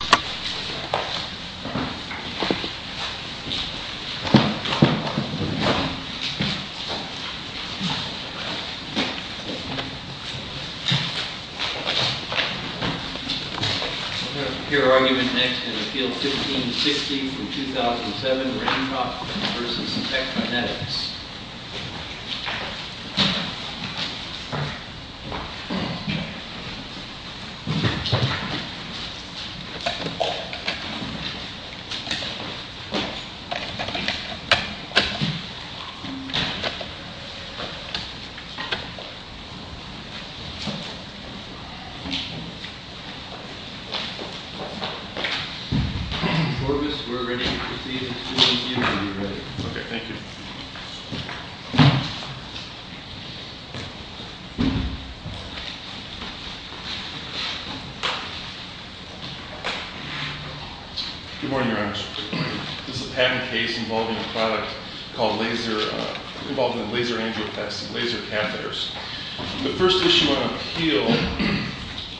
We're going to hear argument next in the field 1560 from 2007, Randrop v. Spectranetics. Corbis, we're ready to proceed as soon as you are ready. Okay, thank you. Good morning, Your Honors. This is a patent case involving a product called laser, involving a laser angioplasty, laser catheters. The first issue on appeal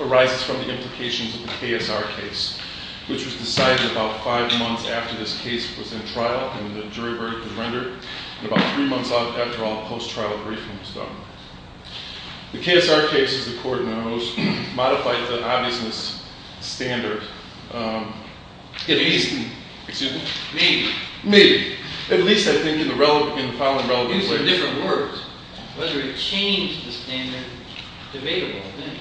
arises from the implications of the KSR case, which was decided about five months after this case was in trial and the jury verdict was rendered, and about three months after all post-trial briefings were done. The KSR case, as the Court knows, modified the obviousness standard. Maybe. Maybe. At least I think in the following relevant ways. Using different words. Whether it changed the standard is a debatable thing.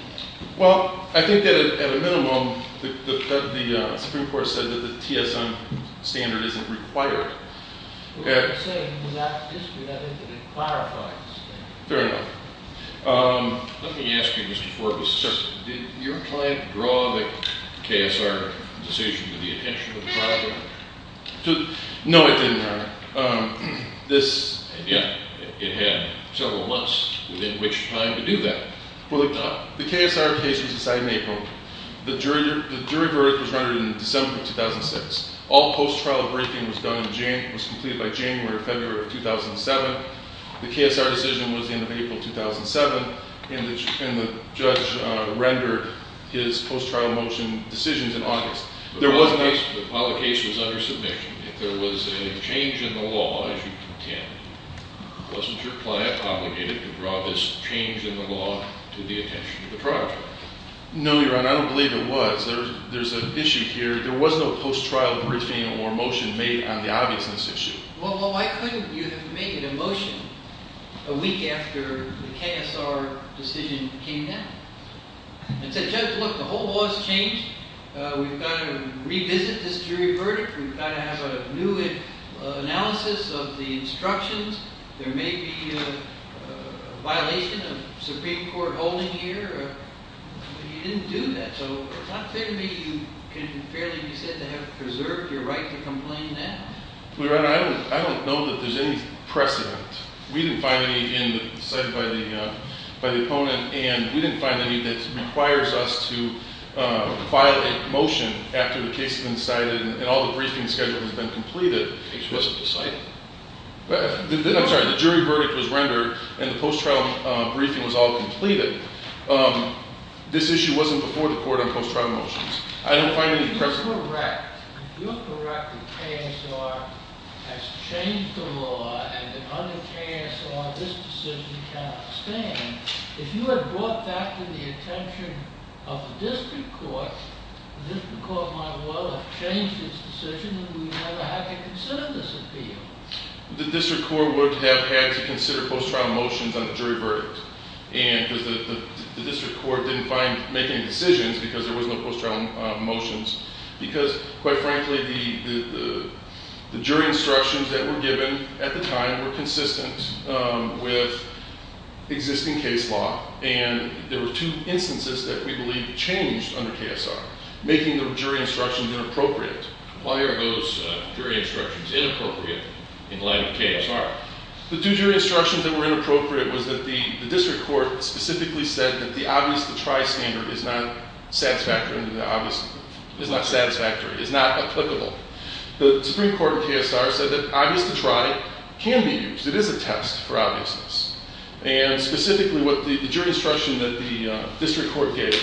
Well, I think that at a minimum, the Supreme Court said that the TSM standard isn't required. What you're saying is that it clarifies the standard. Fair enough. Let me ask you, Mr. Corbis, did your client draw the KSR decision with the intention of driving it? No, it didn't, Your Honor. It had several months within which time to do that. Well, the KSR case was decided in April. The jury verdict was rendered in December 2006. All post-trial briefing was completed by January or February of 2007. The KSR decision was in April 2007, and the judge rendered his post-trial motion decisions in August. While the case was under submission, if there was a change in the law, as you contended, wasn't your client obligated to draw this change in the law to the attention of the project? No, Your Honor. I don't believe it was. There's an issue here. There was no post-trial briefing or motion made on the obviousness issue. Well, why couldn't you have made a motion a week after the KSR decision came down? And said, Judge, look, the whole law has changed. We've got to revisit this jury verdict. We've got to have a new analysis of the instructions. There may be a violation of Supreme Court holding here. But you didn't do that. So it's not fair to me you can fairly be said to have preserved your right to complain now. Well, Your Honor, I don't know that there's any precedent. We didn't find any in the site by the opponent, and we didn't find any that requires us to file a motion after the case has been decided and all the briefing schedule has been completed. The case wasn't decided? I'm sorry. The jury verdict was rendered, and the post-trial briefing was all completed. This issue wasn't before the court on post-trial motions. I don't find any precedent. If you're correct, if you're correct that KSR has changed the law and that under KSR this decision cannot stand, if you had brought that to the attention of the district court, the district court might well have changed its decision, and we'd never have to consider this appeal. The district court would have had to consider post-trial motions on the jury verdict, because the district court didn't make any decisions because there was no post-trial motions, because, quite frankly, the jury instructions that were given at the time were consistent with existing case law, and there were two instances that we believe changed under KSR, making the jury instructions inappropriate. Why are those jury instructions inappropriate in light of KSR? The two jury instructions that were inappropriate was that the district court specifically said that the obvious-to-try standard is not satisfactory, is not applicable. The Supreme Court in KSR said that obvious-to-try can be used. It is a test for obviousness. And specifically, the jury instruction that the district court gave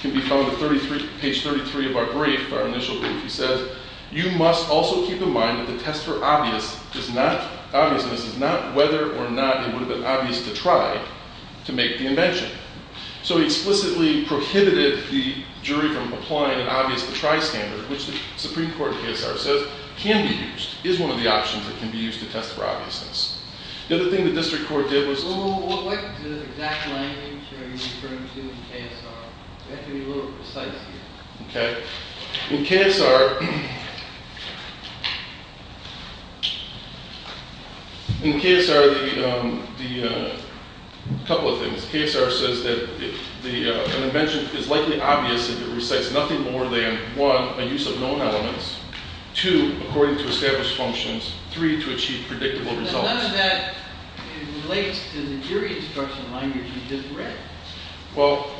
can be found at page 33 of our brief, our initial brief. It says, you must also keep in mind that the test for obviousness is not whether or not it would have been obvious-to-try to make the invention. So it explicitly prohibited the jury from applying an obvious-to-try standard, which the Supreme Court in KSR says can be used, is one of the options that can be used to test for obviousness. The other thing the district court did was- What exact language are you referring to in KSR? You have to be a little precise here. Okay. In KSR, a couple of things. KSR says that an invention is likely obvious if it recites nothing more than, one, a use of known elements, two, according to established functions, three, to achieve predictable results. None of that relates to the jury instruction language you just read. Well,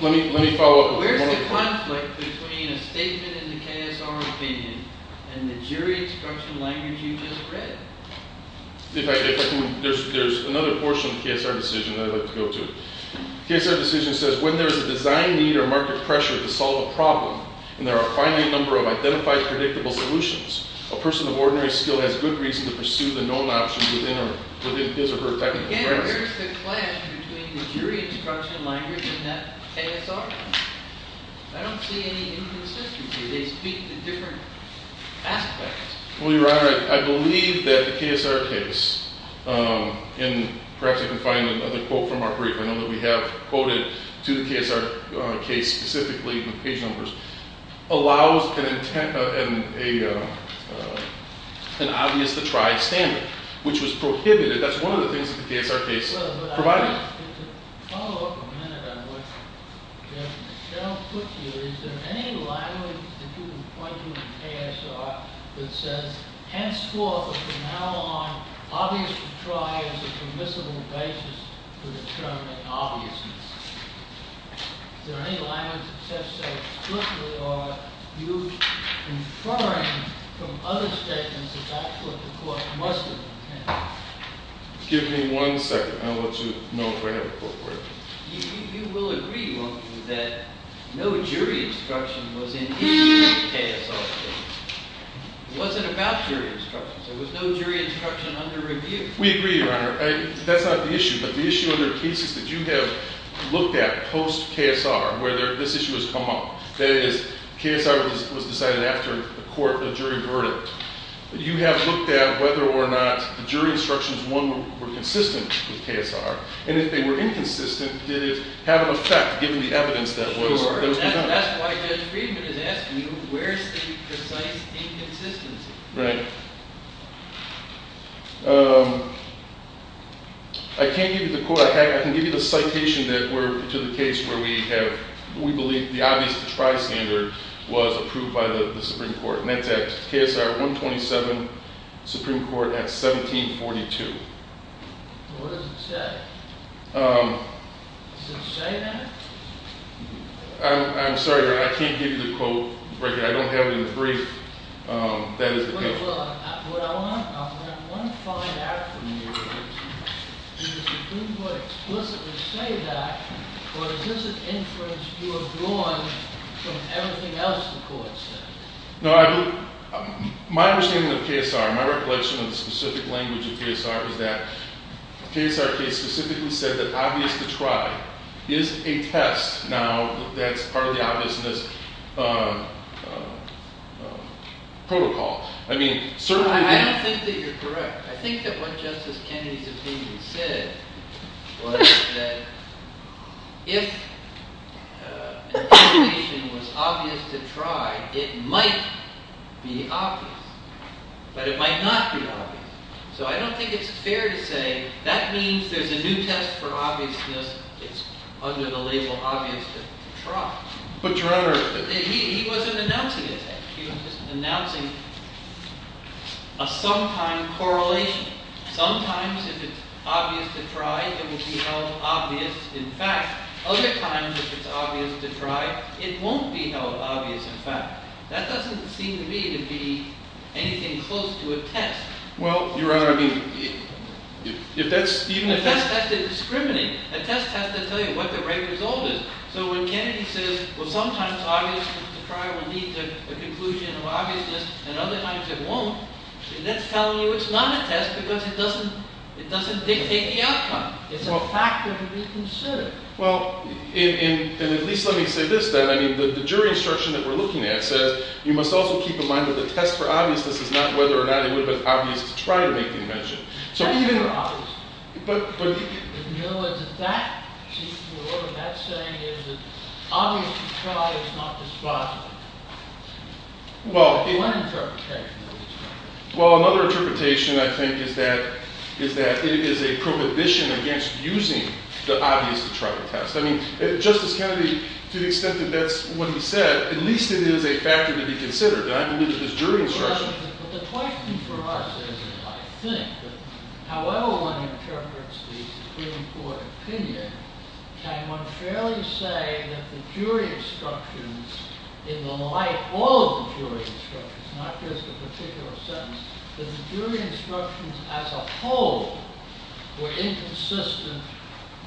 let me follow up. Where's the conflict between a statement in the KSR opinion and the jury instruction language you just read? There's another portion of the KSR decision that I'd like to go to. KSR decision says, when there's a design need or market pressure to solve a problem, and there are a finite number of identified predictable solutions, a person of ordinary skill has good reason to pursue the known option within his or her technical premises. Again, where's the clash between the jury instruction language and that KSR one? I don't see any inconsistency. They speak to different aspects. Well, Your Honor, I believe that the KSR case, and perhaps you can find another quote from our brief. I know that we have quoted to the KSR case specifically with page numbers, allows an obvious to try standard, which was prohibited. That's one of the things that the KSR case provided. To follow up a minute on what General Cook said, is there any language that you would point to in the KSR that says, henceforth and from now on, obvious to try is a permissible basis for determining obviousness? Is there any language that says so strictly, or are you inferring from other statements that actually the court must have intended? Give me one second. I'll let you know if I have a quote for you. You will agree, won't you, that no jury instruction was in any of the KSR cases. It wasn't about jury instructions. There was no jury instruction under review. We agree, Your Honor. That's not the issue, but the issue under cases that you have looked at post-KSR, where this issue has come up, that is, KSR was decided after the court, the jury verdict. You have looked at whether or not the jury instructions, one, were consistent with KSR, and if they were inconsistent, did it have an effect, given the evidence that was presented? That's why Judge Friedman is asking you, where's the precise inconsistency? Right. I can't give you the quote. I can give you the citation to the case where we believe the obvious to try standard was approved by the Supreme Court. And that's at KSR 127, Supreme Court at 1742. What does it say? Does it say that? I'm sorry, Your Honor. I can't give you the quote. I don't have it in the brief. That is the case. What I want to find out from you is, did the Supreme Court explicitly say that, or is this an inference you have drawn from everything else the court said? My understanding of KSR, my recollection of the specific language of KSR, is that the KSR case specifically said that obvious to try is a test. Now, that's part of the obviousness protocol. I don't think that you're correct. I think that what Justice Kennedy's opinion said was that if an application was obvious to try, it might be obvious. But it might not be obvious. So I don't think it's fair to say that means there's a new test for obviousness. It's under the label obvious to try. But, Your Honor. He wasn't announcing it. He was just announcing a sometime correlation. Sometimes, if it's obvious to try, it will be held obvious in fact. Other times, if it's obvious to try, it won't be held obvious in fact. That doesn't seem to me to be anything close to a test. Well, Your Honor, I mean, if that's even a test. A test has to discriminate. A test has to tell you what the right result is. So when Kennedy says, well, sometimes obvious to try will lead to a conclusion of obviousness. And other times, it won't. That's telling you it's not a test because it doesn't dictate the outcome. It's a factor to be considered. Well, and at least let me say this then. I mean, the jury instruction that we're looking at says you must also keep in mind that the test for obviousness is not whether or not it would have been obvious to try to make the invention. That's not obvious. In other words, if that's saying is that obvious to try is not the spot, what interpretation is that? Well, another interpretation, I think, is that it is a prohibition against using the obvious to try test. I mean, Justice Kennedy, to the extent that that's what he said, at least it is a factor to be considered. I believe it is jury instruction. But the question for us is, I think, that however one interprets the Supreme Court opinion, can one fairly say that the jury instructions in the light, all of the jury instructions, not just the particular sentence, that the jury instructions as a whole were inconsistent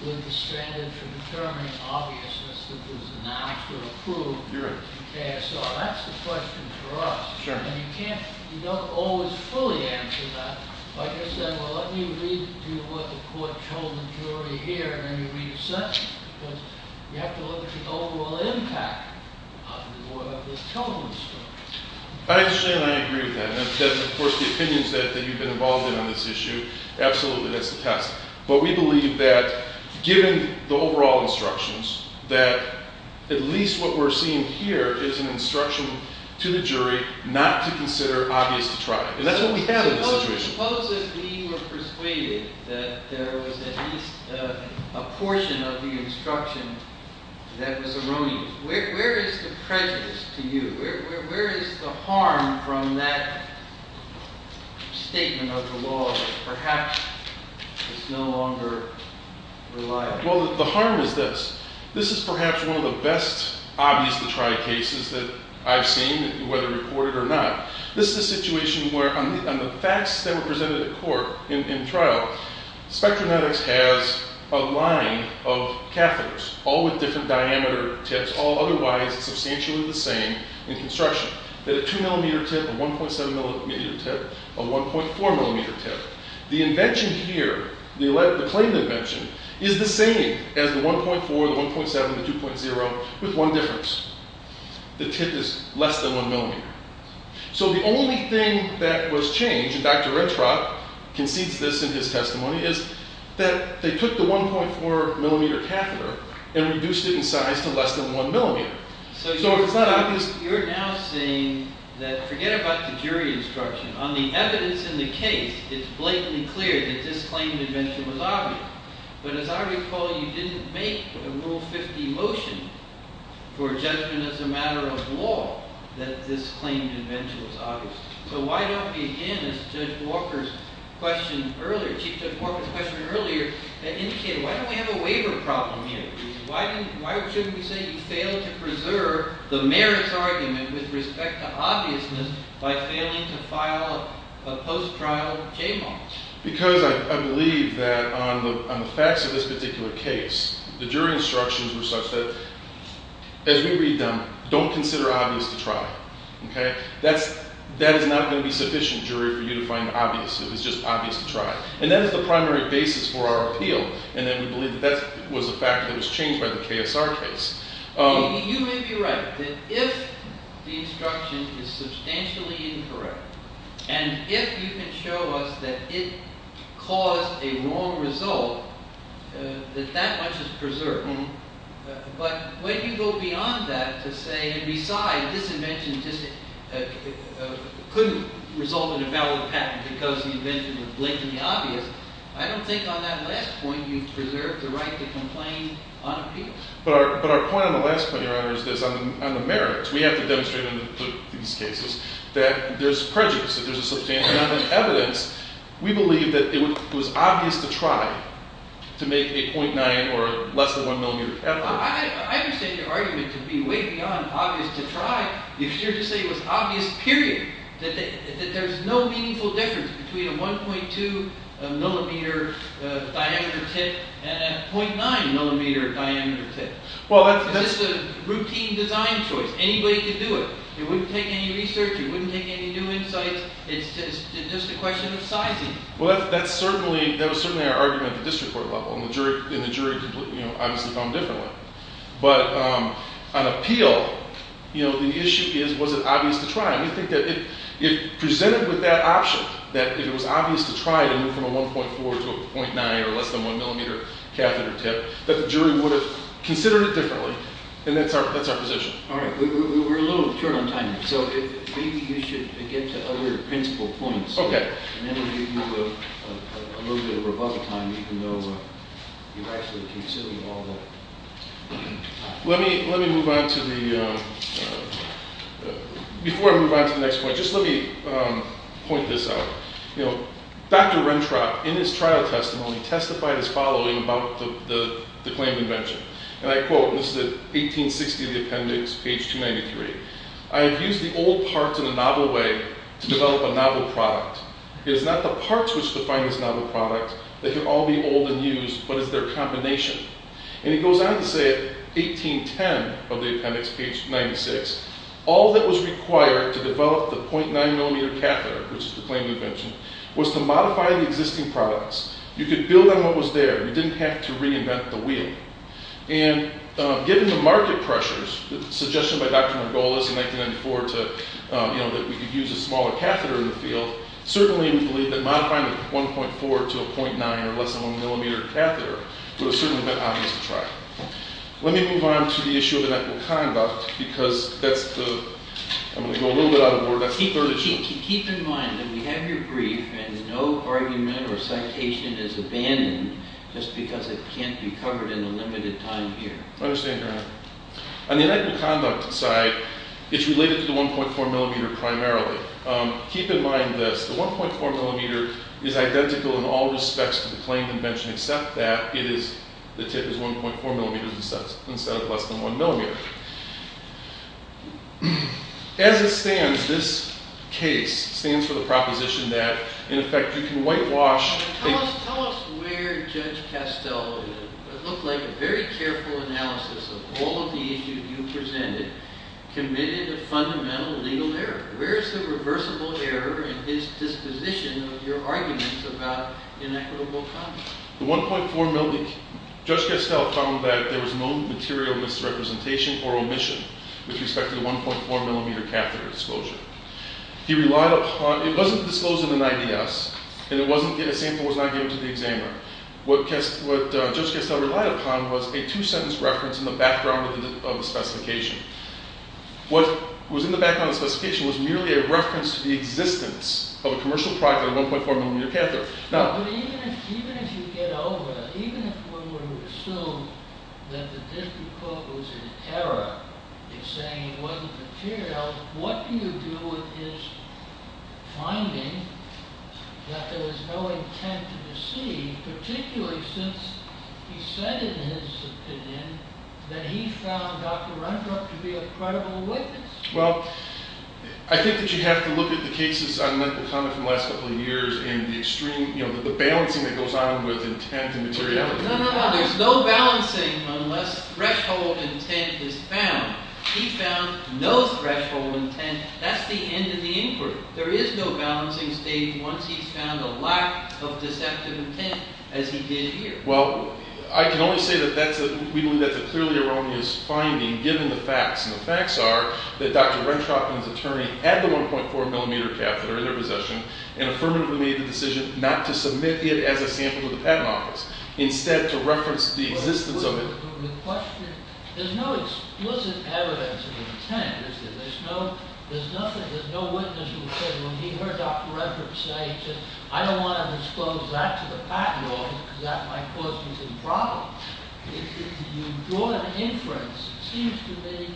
with the standard for determining obviousness that was an act to approve the KSR? Well, that's the question for us. And you can't always fully answer that by just saying, well, let me read to what the court told the jury here, and then you read the sentence. Because you have to look at the overall impact of the total instruction. I understand, and I agree with that. And of course, the opinions that you've been involved in on this issue, absolutely, that's the test. But we believe that given the overall instructions, that at least what we're seeing here is an instruction to the jury not to consider obvious to try. And that's what we have in this situation. If we supposedly were persuaded that there was at least a portion of the instruction that was erroneous, where is the prejudice to you? Where is the harm from that statement of the law that perhaps is no longer reliable? Well, the harm is this. This is perhaps one of the best obvious to try cases that I've seen, whether reported or not. This is a situation where on the facts that were presented at court in trial, spectrometrics has a line of catheters, all with different diameter tips, all otherwise substantially the same in construction. They have a 2 millimeter tip, a 1.7 millimeter tip, a 1.4 millimeter tip. The invention here, the claim invention, is the same as the 1.4, the 1.7, the 2.0, with one difference. The tip is less than 1 millimeter. So the only thing that was changed, and Dr. Redfrock concedes this in his testimony, is that they took the 1.4 millimeter catheter and reduced it in size to less than 1 millimeter. So if it's not obvious. You're now saying that forget about the jury instruction. On the evidence in the case, it's blatantly clear that this claim invention was obvious. But as I recall, you didn't make a Rule 50 motion for judgment as a matter of law that this claim invention was obvious. So why don't we, again, as Judge Walker's question earlier, Chief Judge Walker's question earlier indicated, why don't we have a waiver problem here? Why shouldn't we say you failed to preserve the merits argument with respect to obviousness by failing to file a post-trial j-mark? Because I believe that on the facts of this particular case, the jury instructions were such that, as we read them, don't consider obvious to try. That is not going to be sufficient, jury, for you to find obvious. It was just obvious to try. And that is the primary basis for our appeal. And then we believe that that was a fact that was changed by the KSR case. You may be right that if the instruction is substantially incorrect, and if you can show us that it caused a wrong result, that that much is preserved. But when you go beyond that to say, and besides, this invention couldn't result in a valid patent because the invention was blatantly obvious, I don't think on that last point you've preserved the right to complain on appeal. But our point on the last point, Your Honor, is this. On the merits, we have to demonstrate in these cases that there's prejudice, that there's a substantial amount of evidence. We believe that it was obvious to try to make a 0.9 or less than 1 millimeter tip. I understand your argument to be way beyond obvious to try. If you're to say it was obvious, period, that there's no meaningful difference between a 1.2 millimeter diameter tip and a 0.9 millimeter diameter tip. It's just a routine design choice. Anybody could do it. It wouldn't take any research. It wouldn't take any new insights. It's just a question of sizing. Well, that was certainly our argument at the district court level. And the jury obviously found differently. But on appeal, the issue is, was it obvious to try? We think that if presented with that option, that if it was obvious to try to move from a 1.4 to a 0.9 or less than 1 millimeter catheter tip, that the jury would have considered it differently. And that's our position. All right. We're a little short on time. So maybe you should get to other principal points. Okay. And then we'll give you a little bit of rebuttal time, even though you've actually considered all that. Let me move on to the next point. Just let me point this out. Dr. Rentrop, in his trial testimony, testified as following about the claim invention. And I quote. This is at 1860 in the appendix, page 293. I have used the old parts in a novel way to develop a novel product. It is not the parts which define this novel product that can all be old and used, but it's their combination. And he goes on to say at 1810 of the appendix, page 96, all that was required to develop the 0.9 millimeter catheter, which is the claim invention, was to modify the existing products. You could build on what was there. You didn't have to reinvent the wheel. And given the market pressures, the suggestion by Dr. Margolis in 1994 to, you know, that we could use a smaller catheter in the field, certainly we believe that modifying the 1.4 to a 0.9 or less than 1 millimeter catheter would have certainly been obvious to try. Let me move on to the issue of inequal conduct, because that's the – I'm going to go a little bit out of order. Keep in mind that we have your brief and no argument or citation is abandoned just because it can't be covered in a limited time here. I understand, Your Honor. On the inequal conduct side, it's related to the 1.4 millimeter primarily. Keep in mind this. The 1.4 millimeter is identical in all respects to the claim invention except that it is – the tip is 1.4 millimeters instead of less than 1 millimeter. As it stands, this case stands for the proposition that, in effect, you can whitewash – Tell us where Judge Castell, it looked like a very careful analysis of all of the issues you presented, committed a fundamental legal error. Where is the reversible error in his disposition of your arguments about inequitable conduct? The 1.4 millimeter – Judge Castell found that there was no material misrepresentation or omission with respect to the 1.4 millimeter catheter disclosure. He relied upon – it wasn't disclosed in the 90S, and it wasn't – a sample was not given to the examiner. What Judge Castell relied upon was a two-sentence reference in the background of the specification. What was in the background of the specification was merely a reference to the existence of a commercial product with a 1.4 millimeter catheter. Even if you get over – even if we were to assume that the District Court was in error in saying it wasn't material, what do you do with his finding that there was no intent to deceive, particularly since he said in his opinion that he found Dr. Rundrup to be a credible witness? Well, I think that you have to look at the cases on mental conduct from the last couple of years and the extreme – you know, the balancing that goes on with intent and materiality. No, no, no. There's no balancing unless threshold intent is found. He found no threshold intent. That's the end of the inquiry. There is no balancing state once he's found a lack of deceptive intent, as he did here. Well, I can only say that that's a – we believe that's a clearly erroneous finding given the facts, and the facts are that Dr. Rundrup and his attorney had the 1.4 millimeter catheter in their possession and affirmatively made the decision not to submit it as a sample to the Patent Office, instead to reference the existence of it. The question – there's no explicit evidence of intent. There's no – there's nothing – there's no witness who said when he heard Dr. Rundrup say, he said, I don't want to disclose that to the Patent Office because that might cause me some problems. You draw an inference. It seems to me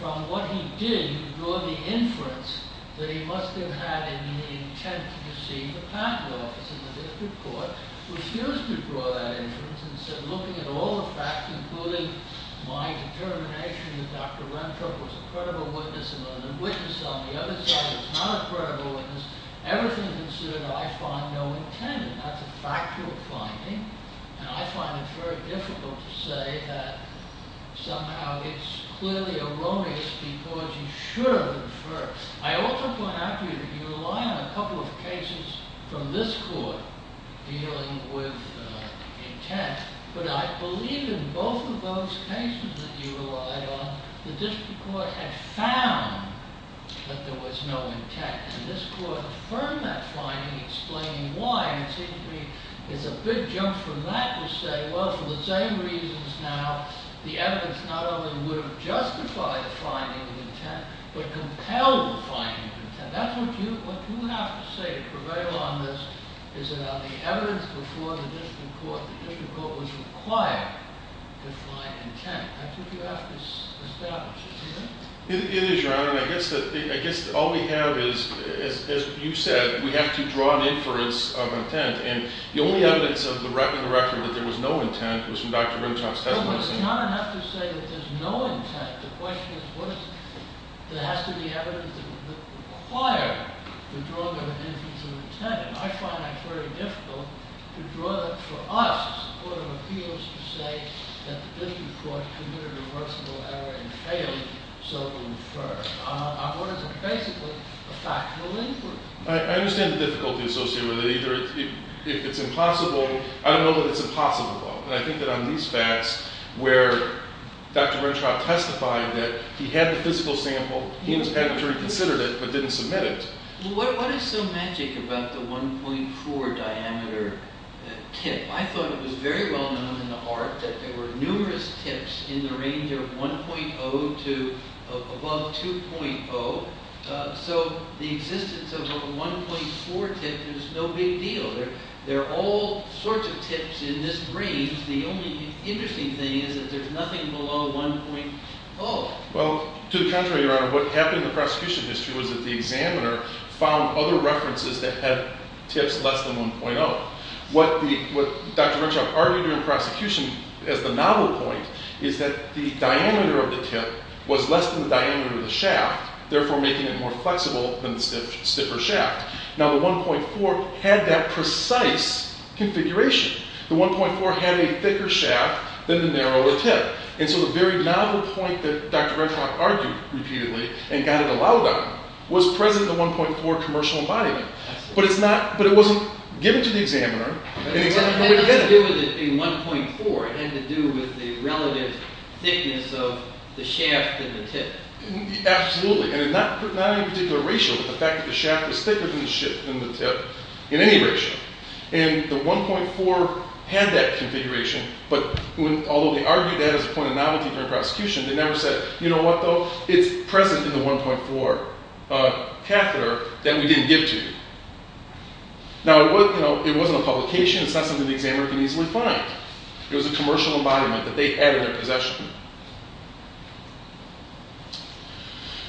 from what he did, you draw the inference that he must have had an intent to deceive the Patent Office and the district court, refused to draw that inference, and said, looking at all the facts, including my determination that Dr. Rundrup was a credible witness and a witness on the other side was not a credible witness, everything considered, I find no intent. And that's a factual finding, and I find it very difficult to say that somehow it's clearly erroneous because you should have inferred. I also point out to you that you rely on a couple of cases from this court dealing with intent, but I believe in both of those cases that you relied on, the district court had found that there was no intent, and this court affirmed that finding, explaining why. It seems to me it's a big jump from that to say, well, for the same reasons now, the evidence not only would have justified the finding of intent, but compelled the finding of intent. That's what you have to say to prevail on this, is that on the evidence before the district court, the district court was required to find intent. That's what you have to establish, isn't it? It is, Your Honor, and I guess all we have is, as you said, we have to draw an inference of intent, and the only evidence in the record that there was no intent was from Dr. Rundrup's testimony. Your Honor, I have to say that there's no intent. The question is, what is it? There has to be evidence that would require the drawing of an inference of intent. I find that very difficult to draw that for us. The court of appeals to say that the district court committed a reversible error in failing so to infer. What is it basically? A factual inference. I understand the difficulty associated with it. Either it's impossible. I don't know that it's impossible, though. But I think that on these facts where Dr. Renshaw testified that he had the physical sample, he had to reconsider it but didn't submit it. What is so magic about the 1.4 diameter tip? I thought it was very well known in the art that there were numerous tips in the range of 1.0 to above 2.0. So the existence of a 1.4 tip is no big deal. There are all sorts of tips in this range. The only interesting thing is that there's nothing below 1.0. Well, to the contrary, Your Honor. What happened in the prosecution history was that the examiner found other references that had tips less than 1.0. What Dr. Renshaw argued during prosecution as the novel point is that the diameter of the tip was less than the diameter of the shaft, therefore making it more flexible than the stiffer shaft. Now, the 1.4 had that precise configuration. The 1.4 had a thicker shaft than the narrower tip. And so the very novel point that Dr. Renshaw argued repeatedly and got it allowed on was present in the 1.4 commercial embodiment. But it wasn't given to the examiner. It had nothing to do with it being 1.4. It had to do with the relative thickness of the shaft and the tip. Absolutely. And not in any particular ratio, but the fact that the shaft was thicker than the tip in any ratio. And the 1.4 had that configuration. But although they argued that as a point of novelty during prosecution, they never said, you know what, though? It's present in the 1.4 catheter that we didn't give to you. Now, it wasn't a publication. It's not something the examiner could easily find. It was a commercial embodiment that they had in their possession.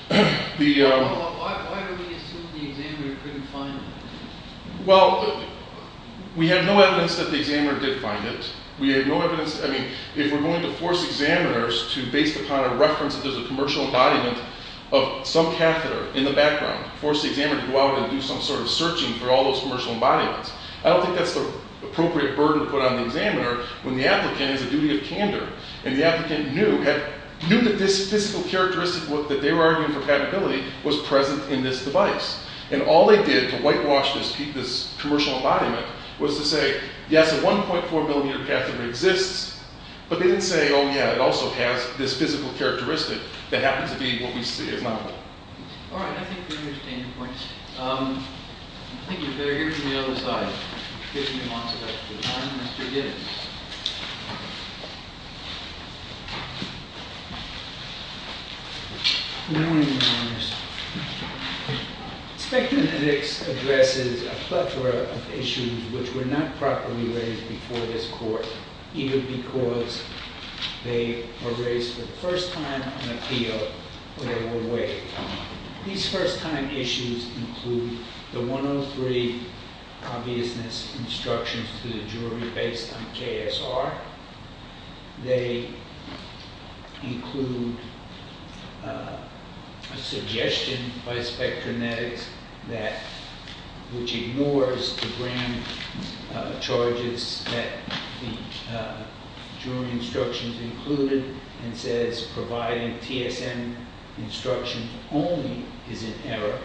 Why do we assume the examiner couldn't find it? Well, we have no evidence that the examiner did find it. We have no evidence. I mean, if we're going to force examiners to, based upon a reference that there's a commercial embodiment of some catheter in the background, force the examiner to go out and do some sort of searching for all those commercial embodiments, I don't think that's the appropriate burden to put on the examiner when the applicant has a duty of candor. And the applicant knew that this physical characteristic that they were arguing for patentability was present in this device. And all they did to whitewash this commercial embodiment was to say, yes, a 1.4 millimeter catheter exists. But they didn't say, oh, yeah, it also has this physical characteristic that happens to be what we see as novel. All right. I think we understand your point. I think you'd better hear from the other side. 15 months is up to the time. Mr. Gibbons. Spectrum ethics addresses a plethora of issues which were not properly raised before this court, even because they were raised for the first time on a field where they were weighed. These first-time issues include the 103 obviousness instructions to the jury based on KSR. They include a suggestion by Spectrum Ethics that which ignores the grand charges that the jury instructions included and says providing TSM instruction only is in error.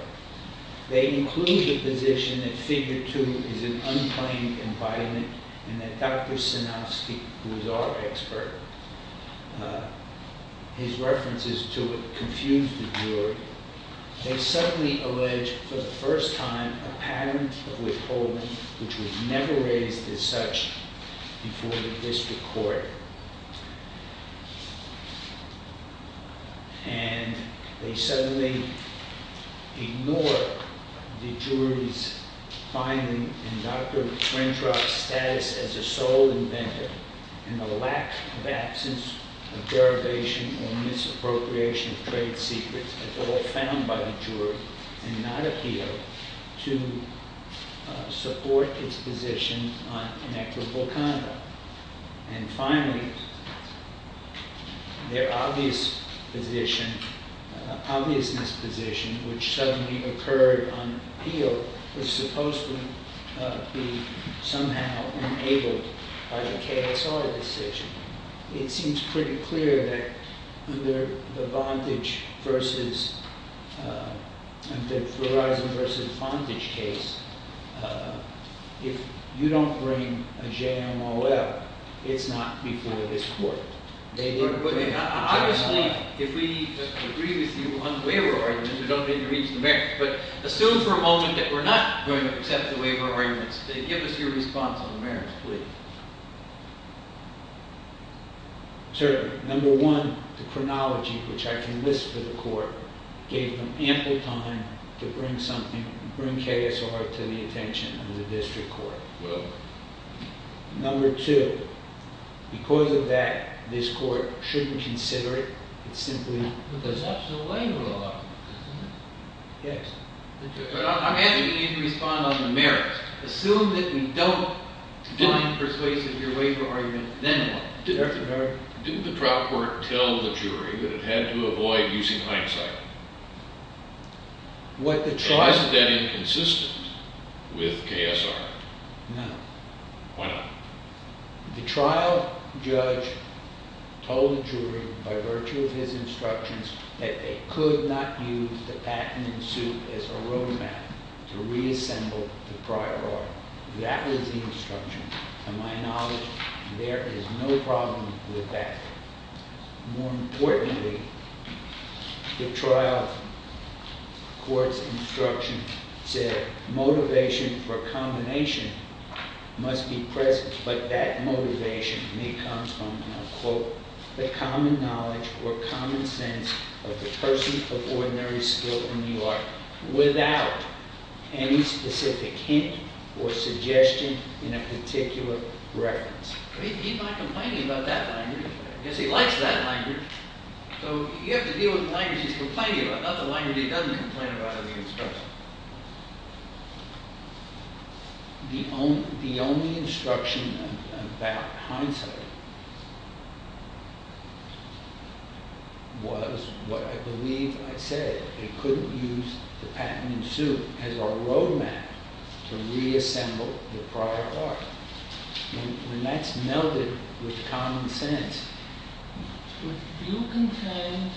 They include the position that figure two is an unplanned embodiment and that Dr. Sinofsky, who is our expert, his references to it confuse the jury. They suddenly allege for the first time a pattern of withholding which was never raised as such before the district court. And they suddenly ignore the jury's finding in Dr. Grintrop's status as a sole inventor and the lack of absence of derivation or misappropriation of trade secrets at all found by the jury and not appear to support its position on inequitable conduct. And finally, their obviousness position, which suddenly occurred on appeal, was supposed to be somehow enabled by the KSR decision. It seems pretty clear that under the Verizon versus Vonage case, if you don't bring a JMOL, it's not before this court. Obviously, if we agree with you on the waiver arrangements, we don't need to reach the merits. But assume for a moment that we're not going to accept the waiver arrangements. Give us your response on the merits, please. Sir, number one, the chronology, which I can list for the court, gave them ample time to bring KSR to the attention of the district court. Number two, because of that, this court shouldn't consider it. There's absolutely a lot of them. I'm asking you to respond on the merits. Assume that we don't find persuasive your waiver arguments, then what? Didn't the trial court tell the jury that it had to avoid using hindsight? It wasn't any consistent with KSR. No. Why not? The trial judge told the jury, by virtue of his instructions, that they could not use the patent in suit as a road map to reassemble the prior law. That was the instruction. To my knowledge, there is no problem with that. More importantly, the trial court's instruction said motivation for combination must be present. But that motivation may come from, and I'll quote, the common knowledge or common sense of the person of ordinary skill in the art without any specific hint or suggestion in a particular reference. He's not complaining about that language. I guess he likes that language. So you have to deal with the language he's complaining about, not the language he doesn't complain about in the instruction. The only instruction about hindsight was what I believe I said. They couldn't use the patent in suit as a road map to reassemble the prior law. And that's melded with common sense. Would you contend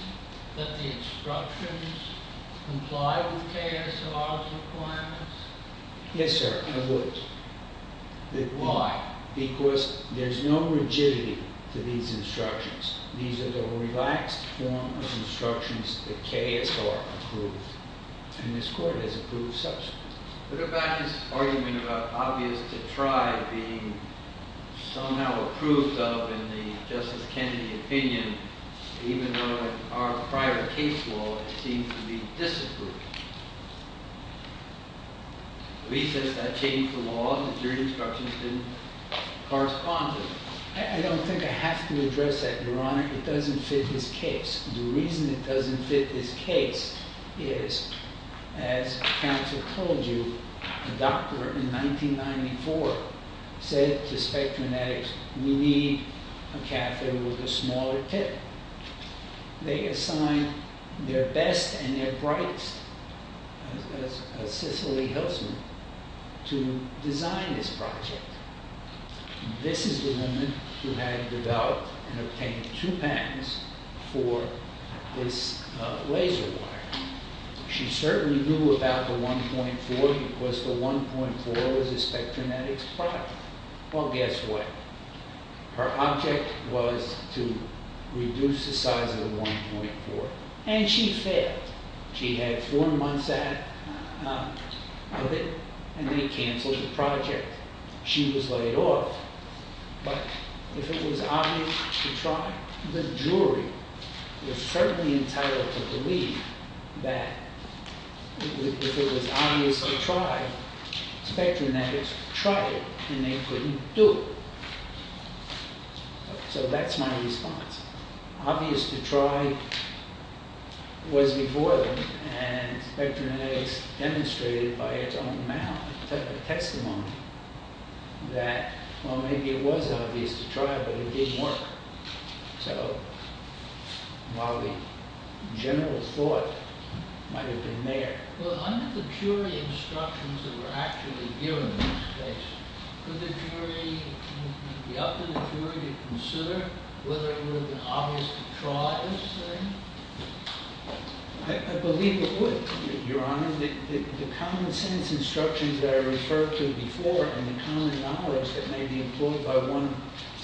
that the instructions comply with KSR's requirements? Yes, sir, I would. Why? Because there's no rigidity to these instructions. These are the relaxed form of instructions that KSR approved, and this court has approved subsequently. What about his argument about obvious to try being somehow approved of in the Justice Kennedy opinion, even though in our prior case law it seemed to be disapproved? He says that changed the law, that your instructions didn't correspond to it. I don't think I have to address that, Your Honor. It doesn't fit his case. The reason it doesn't fit his case is, as counsel told you, a doctor in 1994 said to Spectrumetics, we need a catheter with a smaller tip. They assigned their best and their brightest, a Sicily Hillsman, to design this project. This is the woman who had developed and obtained two patents for this laser wire. She certainly knew about the 1.4 because the 1.4 was a Spectrumetics product. Well, guess what? Her object was to reduce the size of the 1.4, and she failed. She had four months of it, and they canceled the project. She was laid off. But if it was obvious to try, the jury was firmly entitled to believe that if it was obvious to try, Spectrumetics tried it, and they couldn't do it. So that's my response. Obvious to try was before them, and Spectrumetics demonstrated by its own mouth, took the testimony that, well, maybe it was obvious to try, but it didn't work. So while the general thought might have been there. Well, under the jury instructions that were actually given in this case, could the jury be up to the jury to consider whether it would have been obvious to try this thing? I believe it would, Your Honor. The common sense instructions that I referred to before and the common knowledge that may be employed by one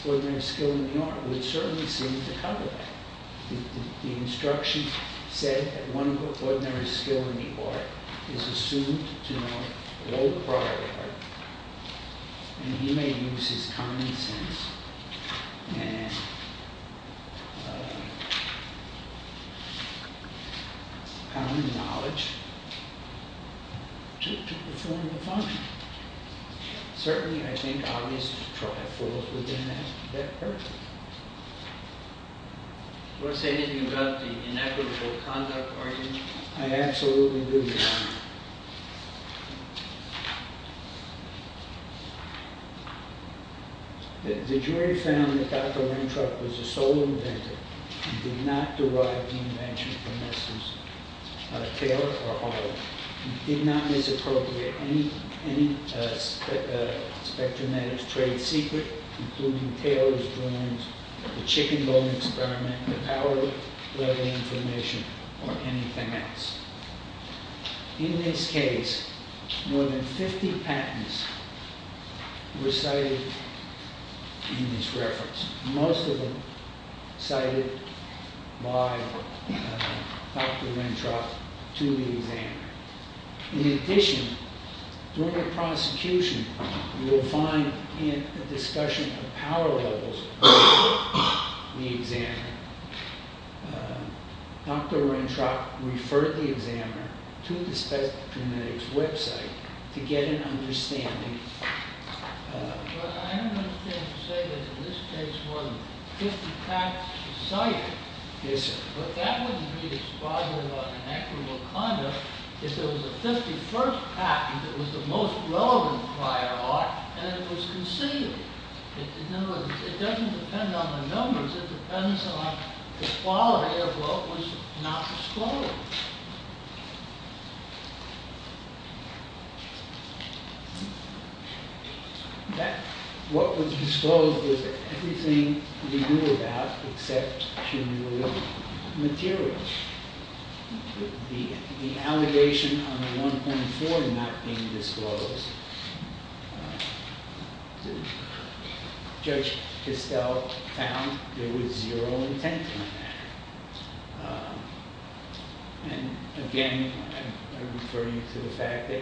ordinary skill in the art would certainly seem to cover that. The instruction said that one ordinary skill in the art is assumed to know all prior art, and he may use his common sense and common knowledge to perform a function. Certainly, I think obvious to try falls within that purview. You want to say anything about the inequitable conduct argument? The jury found that Dr. Weintraub was the sole inventor, and did not derive the invention from Mr. Taylor or Harlan, and did not misappropriate any Spectrumetics trade secret, including Taylor's drawings, the chicken bone experiment, the power level information, or anything else. In this case, more than 50 patents were cited in this reference, most of them cited by Dr. Weintraub to the examiner. In addition, during the prosecution, you will find in the discussion of power levels, the examiner, Dr. Weintraub referred the examiner to the Spectrumetics website to get an understanding. I don't understand to say that in this case more than 50 patents were cited, but that wouldn't be as positive as inequitable conduct if there was a 51st patent that was the most relevant prior art, and it was conceived. It doesn't depend on the numbers, it depends on the quality of what was not disclosed. What was disclosed was everything we knew about except cumulative materials. The allegation on the 1.4 not being disclosed, Judge Kistell found there was zero intent in that. Again, I'm referring to the fact that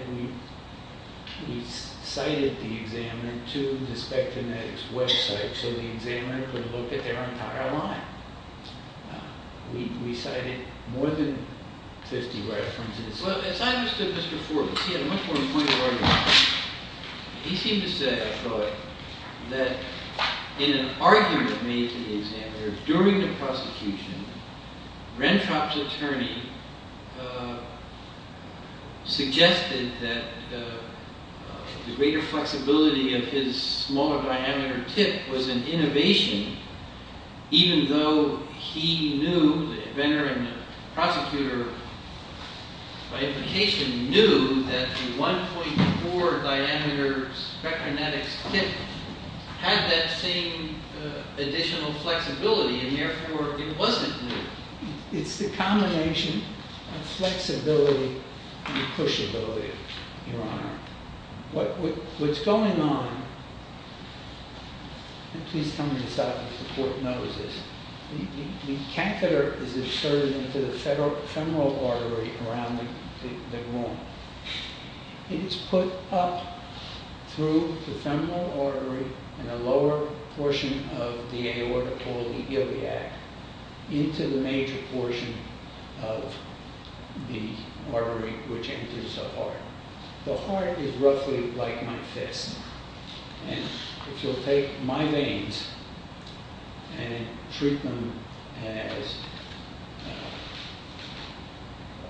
we cited the examiner to the Spectrumetics website so the examiner could look at their entire line. We cited more than 50 references. As I understood this before, because he had a much more important argument, he seemed to say, I thought, that in an argument made to the examiner during the prosecution, Weintraub's attorney suggested that the greater flexibility of his smaller diameter tip was an innovation, even though he knew, the inventor and the prosecutor by implication knew that the 1.4 diameter Spectrumetics tip had that same additional flexibility, and therefore it wasn't new. It's the combination of flexibility and pushability, Your Honor. What's going on, the catheter is inserted into the femoral artery around the wound. It is put up through the femoral artery and a lower portion of the aorta called the iliac into the major portion of the artery which enters the heart. The heart is roughly like my fist. If you'll take my veins and treat them as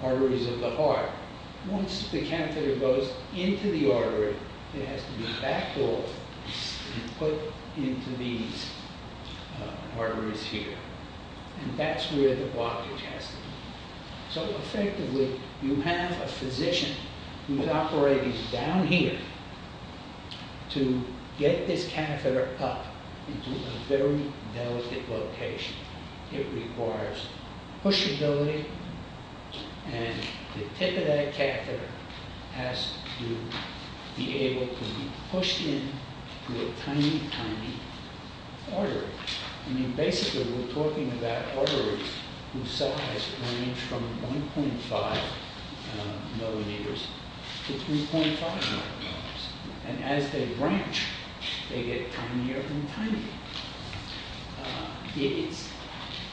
arteries of the heart, once the catheter goes into the artery, it has to be backed off and put into these arteries here. And that's where the blockage has to be. So effectively, you have a physician who's operating down here to get this catheter up into a very delicate location. It requires pushability, and the tip of that catheter has to be able to be pushed in through a tiny, tiny artery. Basically, we're talking about arteries whose size range from 1.5 millimeters to 3.5 millimeters. And as they branch, they get tinier and tinier.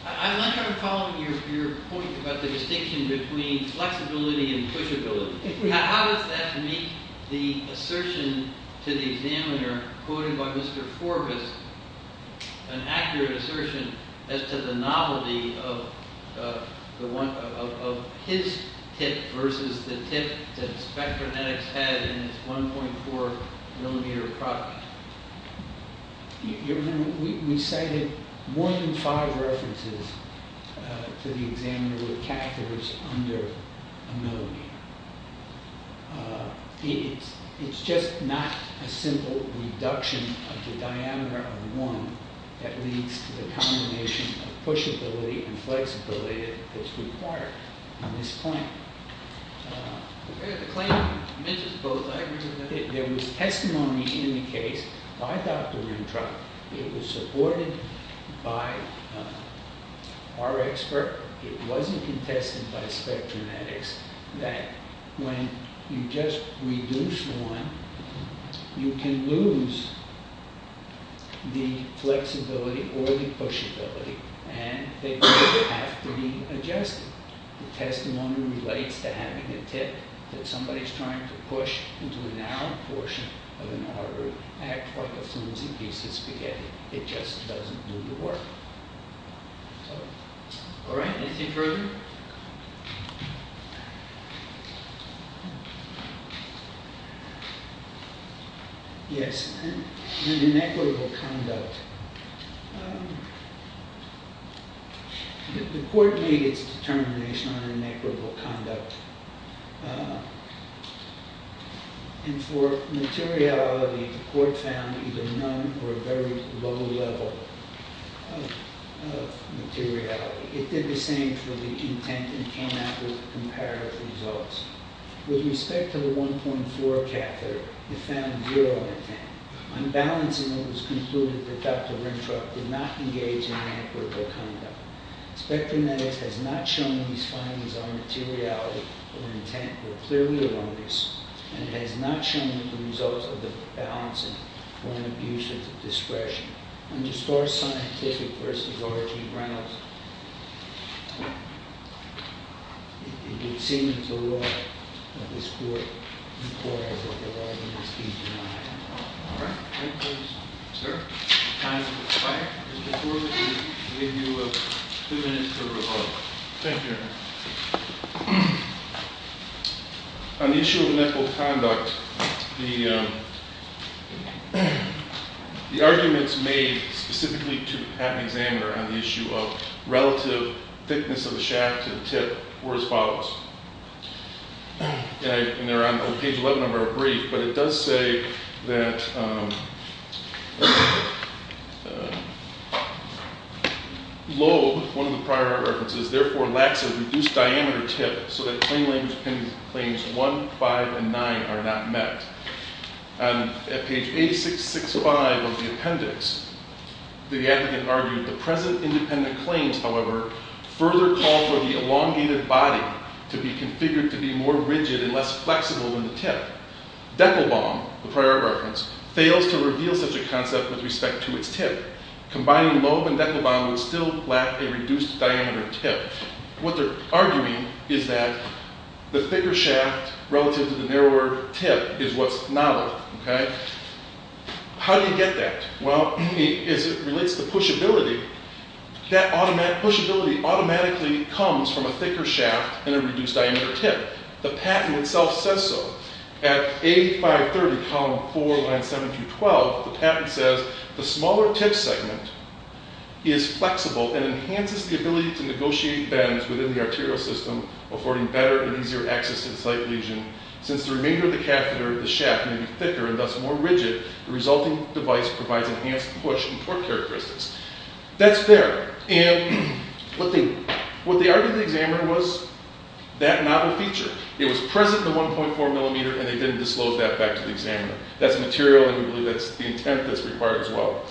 I like your point about the distinction between flexibility and pushability. How does that meet the assertion to the examiner, quoted by Mr. Forbus, an accurate assertion as to the novelty of his tip versus the tip that Spectrometics had in its 1.4 millimeter product? You remember, we cited more than five references to the examiner with catheters under a millimeter. It's just not a simple reduction of the diameter of one that leads to the combination of pushability and flexibility that's required in this claim. The claim mentions both. I agree with that. There was testimony in the case by Dr. Rintra. It was supported by our expert. It wasn't contested by Spectrometics that when you just reduce one, you can lose the flexibility or the pushability. And they both have to be adjusted. The testimony relates to having a tip that somebody's trying to push into a narrow portion of an artery, act like a flimsy piece of spaghetti. It just doesn't do the work. All right. Anything further? Yes. And inequitable conduct. The court made its determination on inequitable conduct. And for materiality, the court found either none or a very low level of materiality. It did the same for the intent and came out with comparative results. With respect to the 1.4 catheter, it found zero intent. On balancing, it was concluded that Dr. Rintra did not engage in inequitable conduct. Spectrometics has not shown that these findings on materiality or intent were clearly erroneous. And it has not shown the results of the balancing were an abuse of discretion. Underscore scientific versus origin grounds. It would seem that the law of this court requires that the law be denied. All right. Any questions? Sir? Time for the flag. Mr. Cooper, we'll give you two minutes for the rebuttal. Thank you, Your Honor. On the issue of inequitable conduct, the arguments made specifically to patent examiner on the issue of relative thickness of the shaft to the tip were as follows. And they're on page 11 of our brief. But it does say that lobe, one of the prior references, therefore lacks a reduced diameter tip so that claim language claims 1, 5, and 9 are not met. On page 8665 of the appendix, the advocate argued the present independent claims, however, further call for the elongated body to be configured to be more rigid and less flexible than the tip. Deckelbaum, the prior reference, fails to reveal such a concept with respect to its tip. Combining lobe and deckelbaum would still lack a reduced diameter tip. What they're arguing is that the thicker shaft relative to the narrower tip is what's novel. How do you get that? Well, as it relates to pushability, that pushability automatically comes from a thicker shaft and a reduced diameter tip. The patent itself says so. At A530, column 4, line 7 through 12, the patent says, the smaller tip segment is flexible and enhances the ability to negotiate bends within the arterial system, affording better and easier access to the site lesion. Since the remainder of the catheter, the shaft, may be thicker and thus more rigid, the resulting device provides enhanced push and torque characteristics. That's fair. And what they argued in the examiner was that novel feature. It was present in the 1.4 millimeter, and they didn't disclose that back to the examiner. That's material, and we believe that's the intent that's required as well.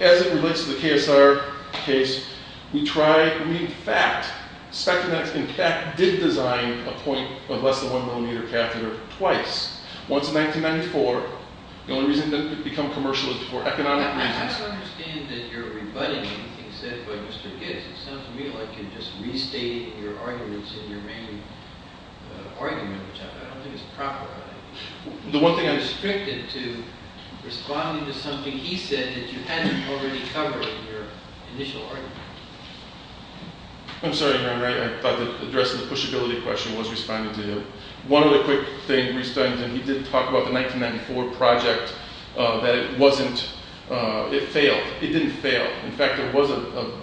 As it relates to the KSR case, we try – I mean, in fact, Spectronetics, in fact, did design a point of less than 1 millimeter catheter twice. Once in 1994. The only reason it didn't become commercial is for economic reasons. I don't understand that you're rebutting anything said by Mr. Gibbs. It sounds to me like you're just restating your arguments in your main argument, which I don't think is proper. The one thing I'm – You're restricted to responding to something he said that you hadn't already covered in your initial argument. I'm sorry, I thought the address to the pushability question was responding to him. He did talk about the 1994 project that it wasn't – it failed. It didn't fail. In fact, there was a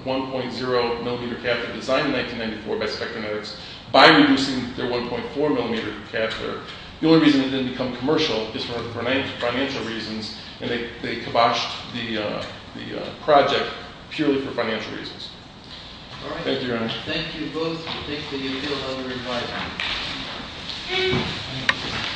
1.0 millimeter catheter designed in 1994 by Spectronetics by reducing their 1.4 millimeter catheter. The only reason it didn't become commercial is for financial reasons, and they kiboshed the project purely for financial reasons. All right. Thank you, Your Honor. Thank you both. Thank you. You may be able to hold your rebuttal.